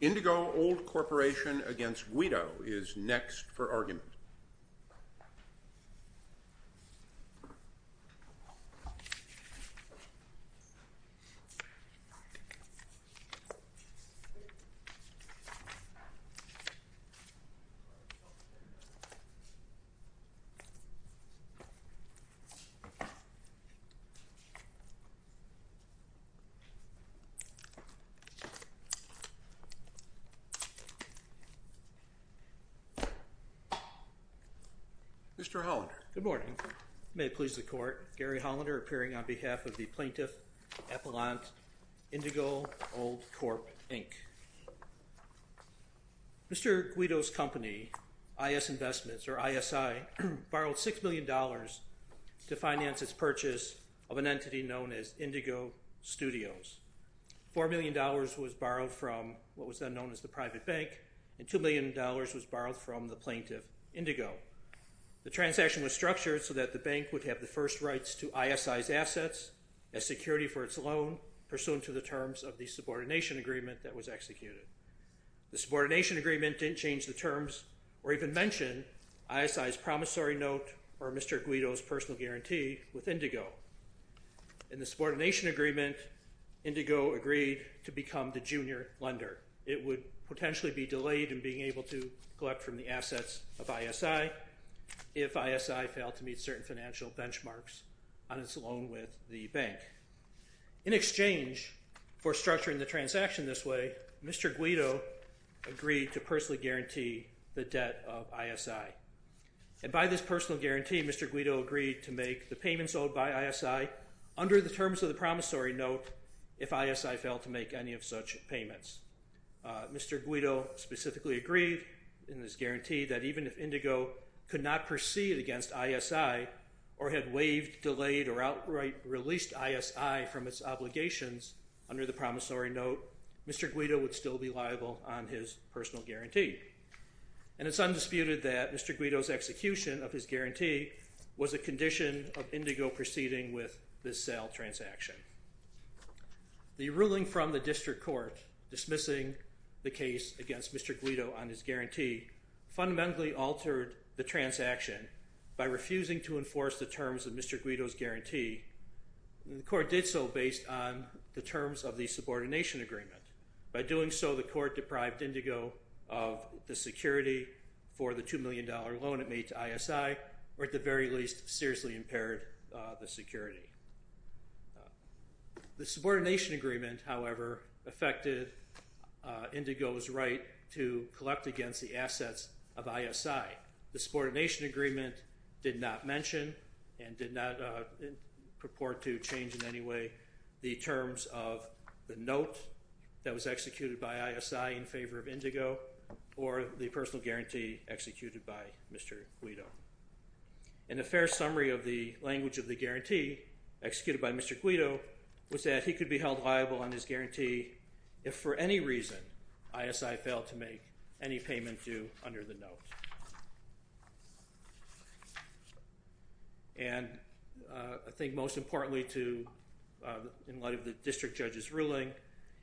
Indigo Old Corporation v. Guido is next for argument. Mr. Hollander. Good morning. May it please the Court, Gary Hollander, appearing on behalf of the Plaintiff Appellant, Indigo Old Corp., Inc. Mr. Guido's company, IS Investments, or ISI, borrowed $6 million to finance its purchase of an entity known as Indigo Studios. $4 million was borrowed from what was then known as the private bank, and $2 million was borrowed from the plaintiff, Indigo. The transaction was structured so that the bank would have the first rights to ISI's assets as security for its loan, pursuant to the terms of the subordination agreement that was executed. The subordination agreement didn't change the terms or even mention ISI's promissory note or Mr. Guido's personal guarantee with Indigo. In the subordination agreement, Indigo agreed to become the junior lender. It would potentially be delayed in being able to collect from the assets of ISI if ISI failed to meet certain financial benchmarks on its loan with the bank. In exchange for structuring the transaction this way, Mr. Guido agreed to personally guarantee the debt of ISI. And by this personal guarantee, Mr. Guido agreed to make the payments owed by ISI under the terms of the promissory note if ISI failed to make any of such payments. Mr. Guido specifically agreed in this guarantee that even if Indigo could not proceed against ISI or had waived, delayed, or outright released ISI from its obligations under the promissory note, Mr. Guido would still be liable on his personal guarantee. And it's undisputed that Mr. Guido's execution of his guarantee was a condition of Indigo proceeding with this sale transaction. The ruling from the district court dismissing the case against Mr. Guido on his guarantee fundamentally altered the transaction by refusing to enforce the terms of Mr. Guido's guarantee. The court did so based on the terms of the subordination agreement. By doing so, the court deprived Indigo of the security for the $2 million loan it made to ISI, or at the very least, seriously impaired the security. The subordination agreement, however, affected Indigo's right to collect against the assets of ISI. The subordination agreement did not mention and did not purport to change in favor of Indigo or the personal guarantee executed by Mr. Guido. And a fair summary of the language of the guarantee executed by Mr. Guido was that he could be held liable on his guarantee if, for any reason, ISI failed to make any payment due under the note. And I think most importantly to, in light of the district judge's ruling,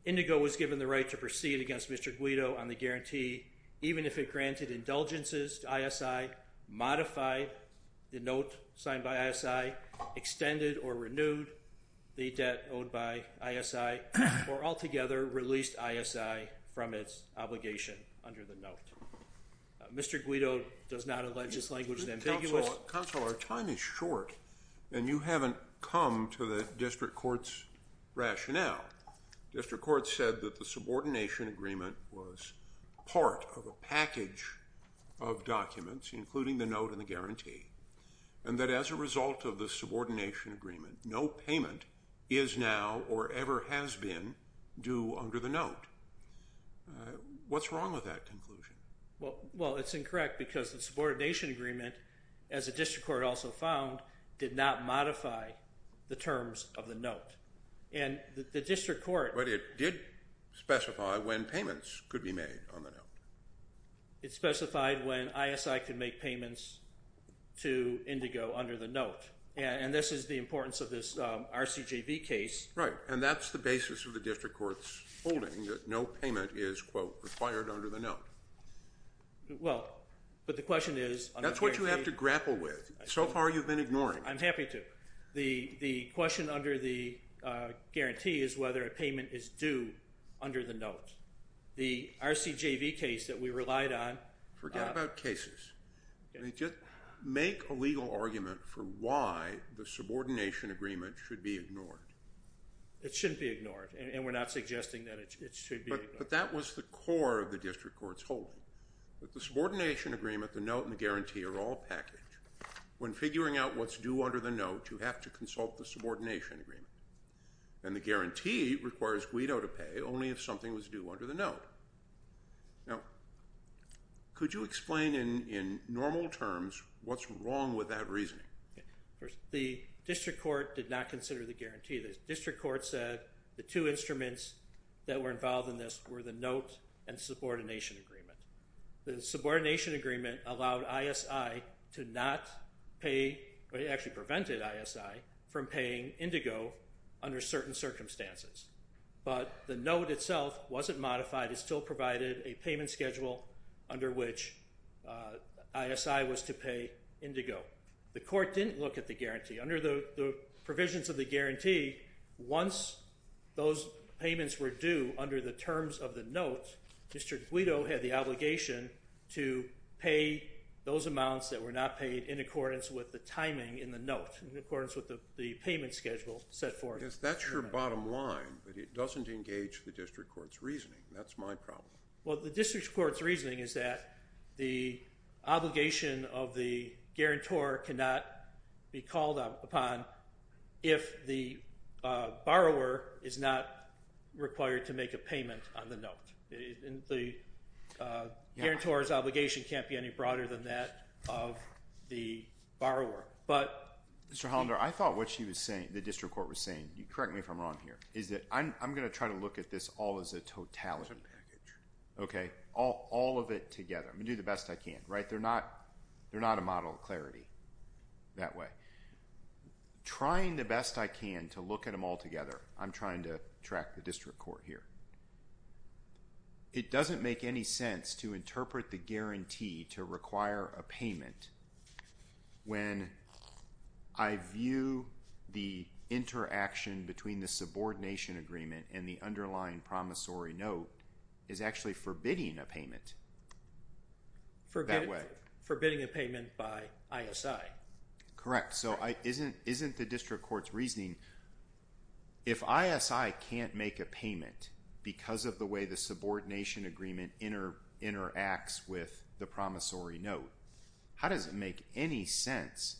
Indigo was given the right to proceed against Mr. Guido on the guarantee, even if it granted indulgences to ISI, modified the note signed by ISI, extended or renewed the debt owed by ISI, or altogether released ISI from its obligation under the note. Mr. Guido does not allege this language is ambiguous. Counselor, our time is short and you haven't come to the district court's rationale. District court said that the subordination agreement was part of a package of documents, including the note and the guarantee, and that as a result of the subordination agreement, no payment is now or ever has been due under the note. What's wrong with that conclusion? Well, it's incorrect because the subordination agreement, as the district court also found, did not modify the terms of the note. And the district court... But it did specify when payments could be made on the note. It specified when ISI could make payments to Indigo under the note. And this is the importance of this RCJV case. Right, and that's the basis of the district court's holding, that no payment is, quote, required under the note. Well, but the question is... That's what you have to grapple with. So far you've been ignoring it. I'm happy to. The question under the guarantee is whether a payment is due under the note. The RCJV case that we relied on... Forget about cases. Just make a legal argument for why the subordination agreement should be ignored. It shouldn't be ignored, and we're not suggesting that it should be ignored. But that was the core of the district court's holding, that the subordination agreement, the note, and the guarantee are all packaged. When figuring out what's due under the note, you have to consult the subordination agreement. And the guarantee requires Guido to pay only if something was due under the note. Now, could you explain in normal terms what's wrong with that reasoning? The district court did not consider the guarantee. The district court said the two instruments that were involved in this were the note and subordination agreement. The subordination agreement allowed ISI to not pay or it actually prevented ISI from paying Indigo under certain circumstances. But the note itself wasn't modified. It still provided a payment schedule under which ISI was to pay Indigo. The court didn't look at the guarantee. Under the provisions of the guarantee, once those payments were due under the terms of the note, District Guido had the obligation to pay those amounts that were not paid in accordance with the timing in the note, in accordance with the payment schedule set forth. Yes, that's your bottom line, but it doesn't engage the district court's reasoning. That's my problem. Well, the district court's reasoning is that the obligation of the guarantor cannot be called upon if the borrower is not required to make a payment on the note. The guarantor's obligation can't be any broader than that of the borrower. Mr. Hollander, I thought what the district court was saying, correct me if I'm wrong here, is that I'm going to try to look at this all as a totality, all of it together. I'm going to do the best I can. They're not a model of clarity that way. Trying the best I can to look at them all together, I'm trying to track the district court here. It doesn't make any sense to interpret the guarantee to require a payment when I view the interaction between the subordination agreement and the underlying promissory note as actually forbidding a payment that way. Forbidding a payment by ISI. Correct. So isn't the district court's reasoning, if ISI can't make a payment because of the way the subordination agreement interacts with the promissory note, how does it make any sense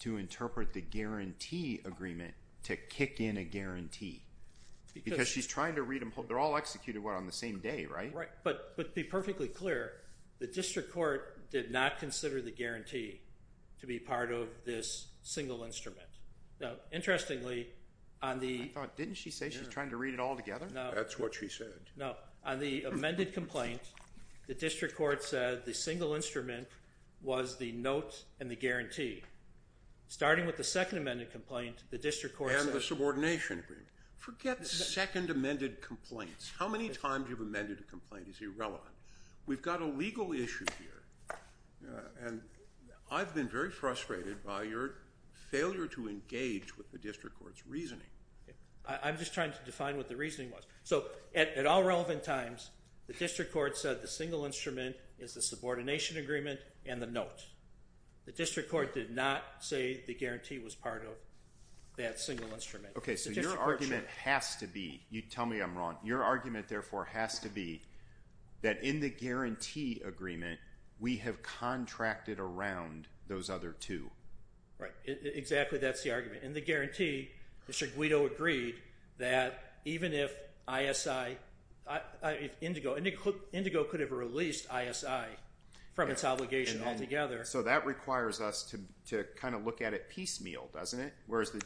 to interpret the guarantee agreement to kick in a guarantee? Because she's trying to read them whole. They're all executed, what, on the same day, right? Right, but to be perfectly clear, the district court did not consider the guarantee to be part of this single instrument. Now, interestingly, on the ñ I thought, didn't she say she's trying to read it all together? No. That's what she said. No. On the amended complaint, the district court said the single instrument was the note and the guarantee. Starting with the second amended complaint, the district court said ñ And the subordination agreement. Forget second amended complaints. How many times you've amended a complaint is irrelevant. We've got a legal issue here, and I've been very frustrated by your failure to engage with the district court's reasoning. I'm just trying to define what the reasoning was. So at all relevant times, the district court said the single instrument is the subordination agreement and the note. The district court did not say the guarantee was part of that single instrument. Okay, so your argument has to be ñ tell me I'm wrong. Your argument, therefore, has to be that in the guarantee agreement, we have contracted around those other two. Right. Exactly. That's the argument. In the guarantee, Mr. Guido agreed that even if ISI ñ if Indigo ñ Indigo could have released ISI from its obligation altogether. So that requires us to kind of look at it piecemeal, doesn't it? Whereas the ñ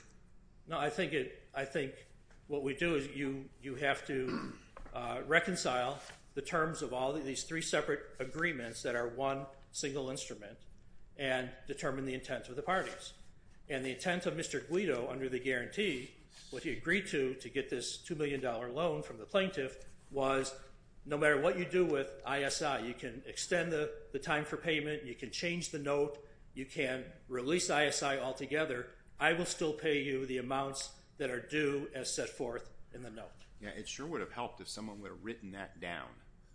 No, I think what we do is you have to reconcile the terms of all these three separate agreements that are one single instrument and determine the intent of the parties. And the intent of Mr. Guido under the guarantee, what he agreed to to get this $2 million loan from the plaintiff, was no matter what you do with ISI, you can extend the time for payment, you can change the note, you can release ISI altogether. I will still pay you the amounts that are due as set forth in the note. Yeah, it sure would have helped if someone would have written that down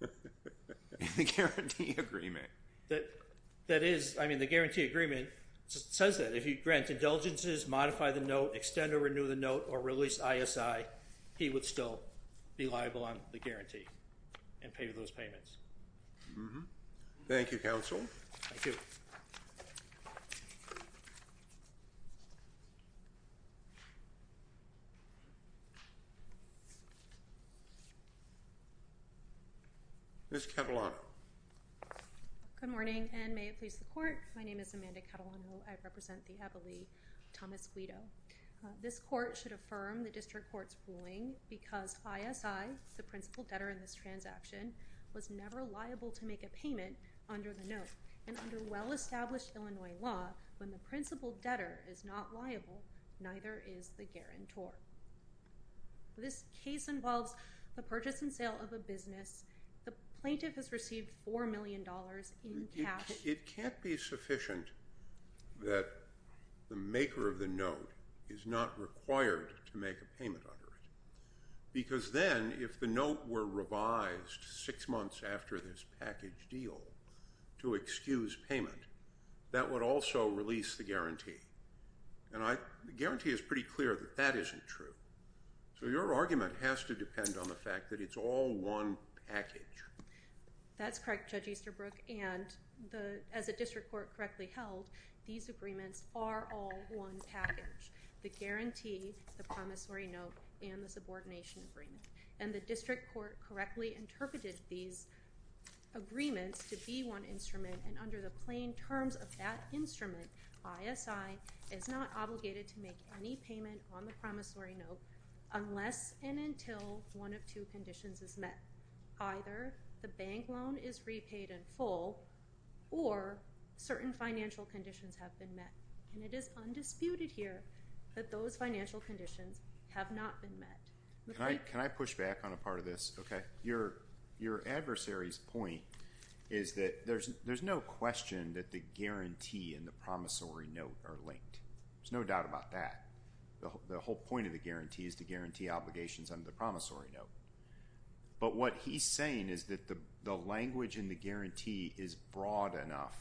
in the guarantee agreement. That is ñ I mean, the guarantee agreement says that. If you grant indulgences, modify the note, extend or renew the note, or release ISI, he would still be liable on the guarantee and pay those payments. Thank you, counsel. Thank you. Thank you. Ms. Catalano. Good morning, and may it please the Court. My name is Amanda Catalano. I represent the ability of Thomas Guido. This court should affirm the district court's ruling because ISI, the principal debtor in this transaction, was never liable to make a payment under the note. And under well-established Illinois law, when the principal debtor is not liable, neither is the guarantor. This case involves the purchase and sale of a business. The plaintiff has received $4 million in cash. It can't be sufficient that the maker of the note is not required to make a payment under it That would also release the guarantee. And the guarantee is pretty clear that that isn't true. So your argument has to depend on the fact that it's all one package. That's correct, Judge Easterbrook. And as the district court correctly held, these agreements are all one package. The guarantee, the promissory note, and the subordination agreement. And the district court correctly interpreted these agreements to be one instrument, and under the plain terms of that instrument, ISI is not obligated to make any payment on the promissory note unless and until one of two conditions is met. Either the bank loan is repaid in full or certain financial conditions have been met. And it is undisputed here that those financial conditions have not been met. Can I push back on a part of this? Your adversary's point is that there's no question that the guarantee and the promissory note are linked. There's no doubt about that. The whole point of the guarantee is to guarantee obligations under the promissory note. But what he's saying is that the language in the guarantee is broad enough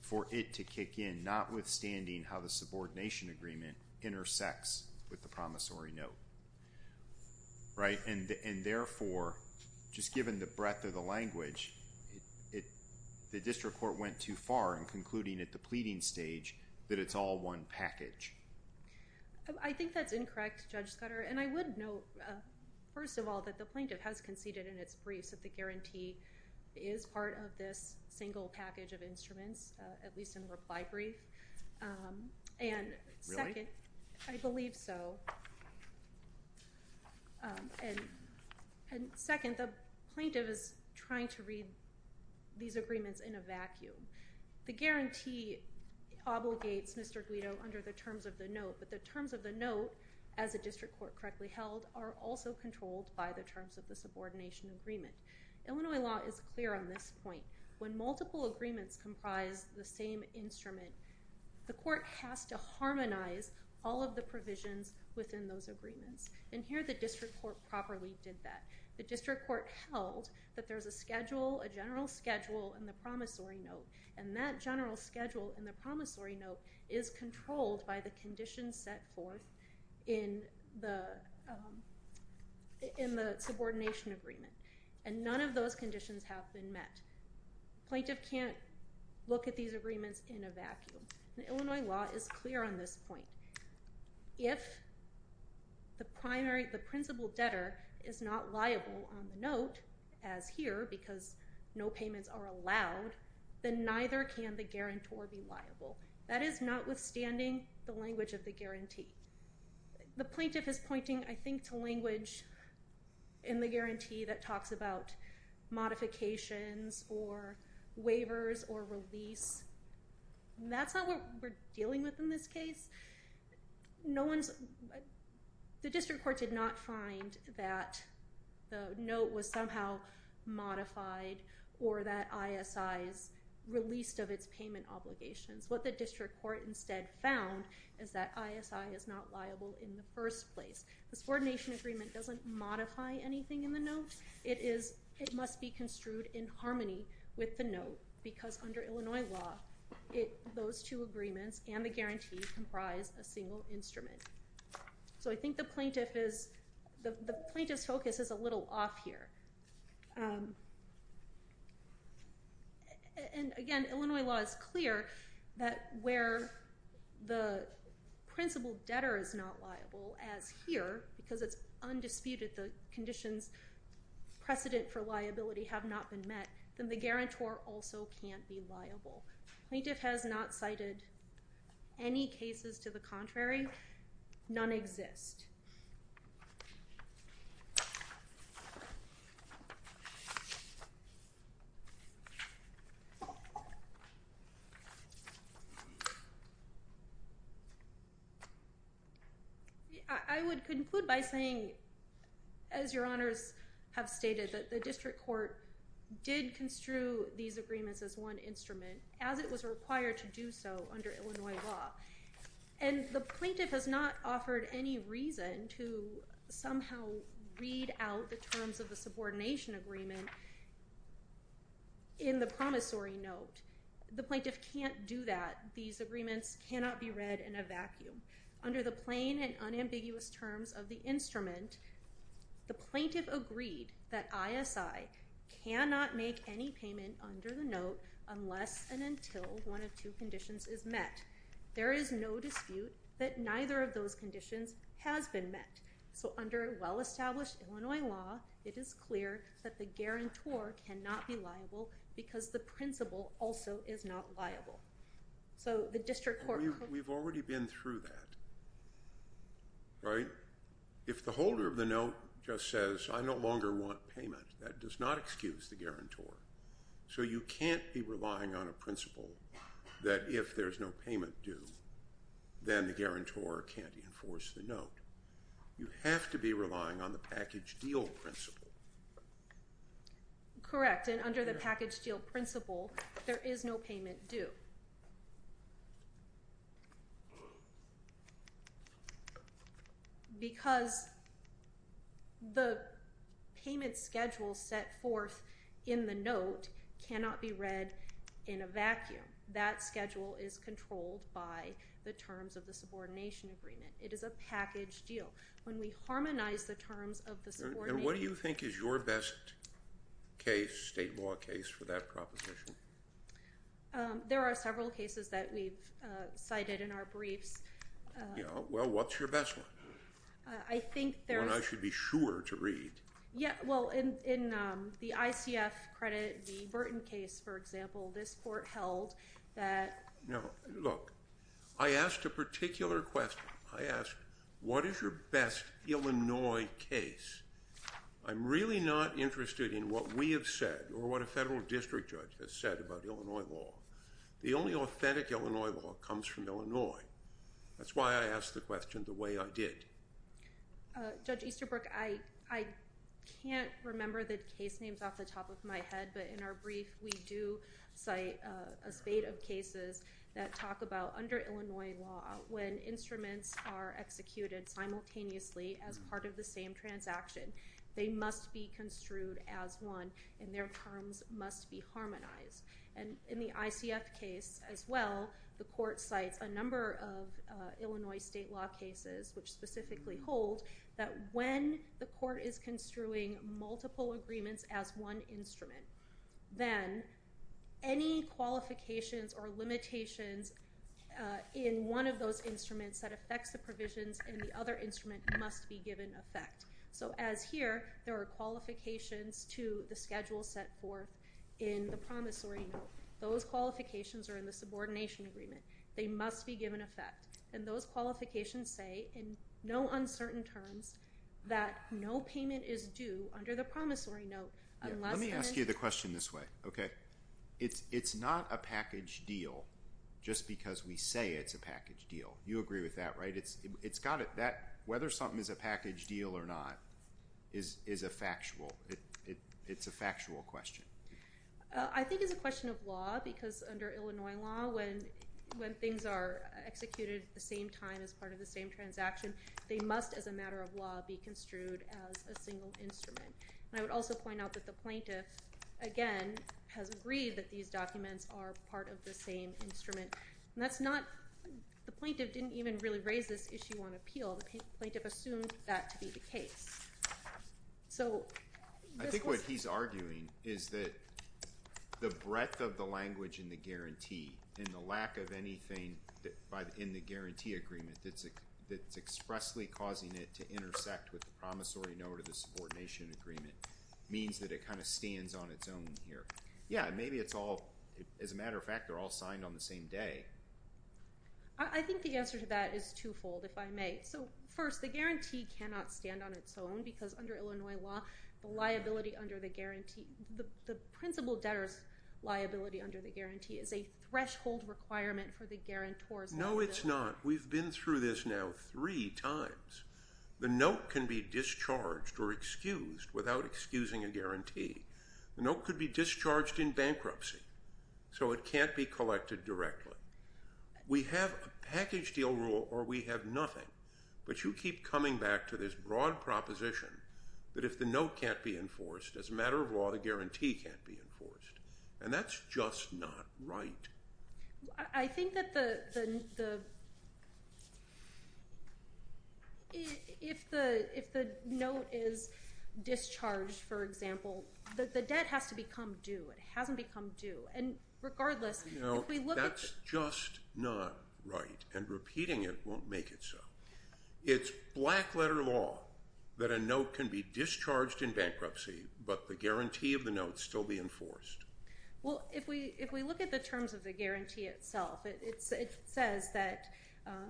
for it to kick in, notwithstanding how the subordination agreement intersects with the promissory note. And therefore, just given the breadth of the language, the district court went too far in concluding at the pleading stage that it's all one package. I think that's incorrect, Judge Scudder. And I would note, first of all, that the plaintiff has conceded in its briefs that the guarantee is part of this single package of instruments, at least in reply brief. Really? I believe so. And second, the plaintiff is trying to read these agreements in a vacuum. The guarantee obligates Mr. Guido under the terms of the note, but the terms of the note, as the district court correctly held, are also controlled by the terms of the subordination agreement. Illinois law is clear on this point. When multiple agreements comprise the same instrument, the court has to harmonize all of the provisions within those agreements. And here the district court properly did that. The district court held that there's a general schedule in the promissory note, and that general schedule in the promissory note is controlled by the conditions set forth in the subordination agreement. And none of those conditions have been met. The plaintiff can't look at these agreements in a vacuum. And Illinois law is clear on this point. If the principal debtor is not liable on the note, as here, because no payments are allowed, then neither can the guarantor be liable. That is notwithstanding the language of the guarantee. The plaintiff is pointing, I think, to language in the guarantee that talks about modifications or waivers or release. That's not what we're dealing with in this case. The district court did not find that the note was somehow modified or that ISI's released of its payment obligations. What the district court instead found is that ISI is not liable in the first place. The subordination agreement doesn't modify anything in the note. It must be construed in harmony with the note, because under Illinois law, those two agreements and the guarantee comprise a single instrument. So I think the plaintiff's focus is a little off here. And again, Illinois law is clear that where the principal debtor is not liable, as here, because it's undisputed, the conditions precedent for liability have not been met, then the guarantor also can't be liable. The plaintiff has not cited any cases to the contrary. None exist. I would conclude by saying, as Your Honors have stated, that the district court did construe these agreements as one instrument, as it was required to do so under Illinois law. And the plaintiff has not offered any reason to somehow read out the terms of the subordination agreement in the promissory note. The plaintiff can't do that. These agreements cannot be read in a vacuum. Under the plain and unambiguous terms of the instrument, the plaintiff agreed that ISI cannot make any payment under the note unless and until one of two conditions is met. There is no dispute that neither of those conditions has been met. So under well-established Illinois law, it is clear that the guarantor cannot be liable, because the principal also is not liable. So the district court... We've already been through that, right? If the holder of the note just says, I no longer want payment, that does not excuse the guarantor. So you can't be relying on a principal that if there's no payment due, then the guarantor can't enforce the note. You have to be relying on the package deal principle. Correct. And under the package deal principle, there is no payment due. Because the payment schedule set forth in the note cannot be read in a vacuum. That schedule is controlled by the terms of the subordination agreement. It is a package deal. When we harmonize the terms of the subordination agreement... And what do you think is your best case, state law case, for that proposition? There are several cases that we've cited in our briefs. Well, what's your best one? I think there are... One I should be sure to read. Well, in the ICF credit, the Burton case, for example, this court held that... No, look, I asked a particular question. I asked, what is your best Illinois case? I'm really not interested in what we have said or what a federal district judge has said about Illinois law. The only authentic Illinois law comes from Illinois. That's why I asked the question the way I did. Judge Easterbrook, I can't remember the case names off the top of my head, but in our brief, we do cite a spate of cases that talk about, under Illinois law, when instruments are executed simultaneously as part of the same transaction, they must be construed as one, and their terms must be harmonized. And in the ICF case as well, the court cites a number of Illinois state law cases which specifically hold that when the court is construing multiple agreements as one instrument, then any qualifications or limitations in one of those instruments that affects the provisions in the other instrument must be given effect. So as here, there are qualifications to the schedule set forth in the promissory note. Those qualifications are in the subordination agreement. They must be given effect. And those qualifications say, in no uncertain terms, that no payment is due under the promissory note unless... Let me ask you the question this way. It's not a package deal just because we say it's a package deal. You agree with that, right? Whether something is a package deal or not is a factual question. I think it's a question of law because under Illinois law, when things are executed at the same time as part of the same transaction, they must, as a matter of law, be construed as a single instrument. And I would also point out that the plaintiff, again, has agreed that these documents are part of the same instrument. The plaintiff didn't even really raise this issue on appeal. The plaintiff assumed that to be the case. I think what he's arguing is that the breadth of the language in the guarantee and the lack of anything in the guarantee agreement that's expressly causing it to intersect with the promissory note of the subordination agreement means that it kind of stands on its own here. Yeah, maybe it's all, as a matter of fact, they're all signed on the same day. I think the answer to that is twofold, if I may. First, the guarantee cannot stand on its own because under Illinois law, the liability under the guarantee, the principal debtor's liability under the guarantee is a threshold requirement for the guarantor's liability. No, it's not. We've been through this now three times. The note can be discharged or excused without excusing a guarantee. The note could be discharged in bankruptcy, so it can't be collected directly. We have a package deal rule or we have nothing, but you keep coming back to this broad proposition that if the note can't be enforced, as a matter of law, the guarantee can't be enforced, and that's just not right. I think that if the note is discharged, for example, the debt has to become due. It hasn't become due, and regardless, if we look at the- No, that's just not right, and repeating it won't make it so. It's black-letter law that a note can be discharged in bankruptcy, but the guarantee of the note still be enforced. Well, if we look at the terms of the guarantee itself, it says that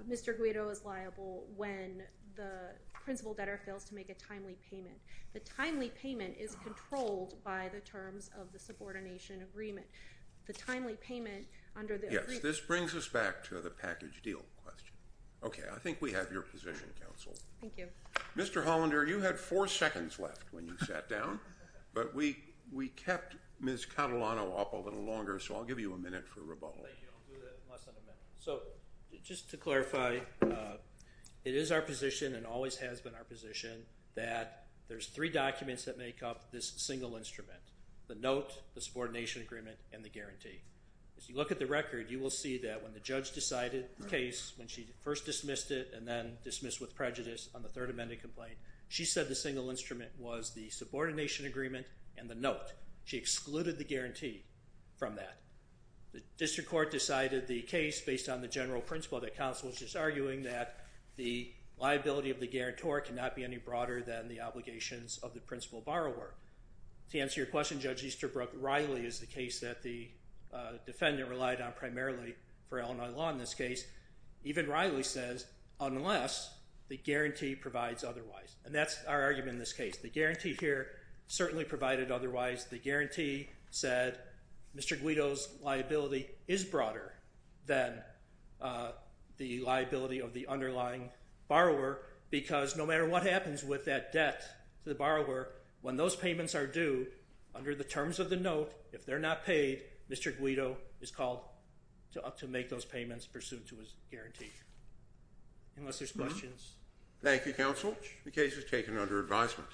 Mr. Guido is liable when the principal debtor fails to make a timely payment. The timely payment is controlled by the terms of the subordination agreement. The timely payment under the agreement- Yes, this brings us back to the package deal question. Okay, I think we have your position, Counsel. Thank you. Mr. Hollander, you had four seconds left when you sat down, but we kept Ms. Catalano up a little longer, so I'll give you a minute for rebuttal. Thank you. I'll do that in less than a minute. So just to clarify, it is our position and always has been our position that there's three documents that make up this single instrument, the note, the subordination agreement, and the guarantee. As you look at the record, you will see that when the judge decided the case, when she first dismissed it and then dismissed with prejudice on the Third Amendment complaint, she said the single instrument was the subordination agreement and the note. She excluded the guarantee from that. The district court decided the case based on the general principle that counsel was just arguing that the liability of the guarantor cannot be any broader than the obligations of the principal borrower. To answer your question, Judge Easterbrook, Riley is the case that the defendant relied on primarily for Illinois law in this case. Even Riley says, unless the guarantee provides otherwise. And that's our argument in this case. The guarantee here certainly provided otherwise. The guarantee said Mr. Guido's liability is broader than the liability of the underlying borrower because no matter what happens with that debt to the borrower, when those payments are due, under the terms of the note, if they're not paid, Mr. Guido is called to make those payments pursuant to his guarantee. Unless there's questions. Thank you, counsel. The case is taken under advisement.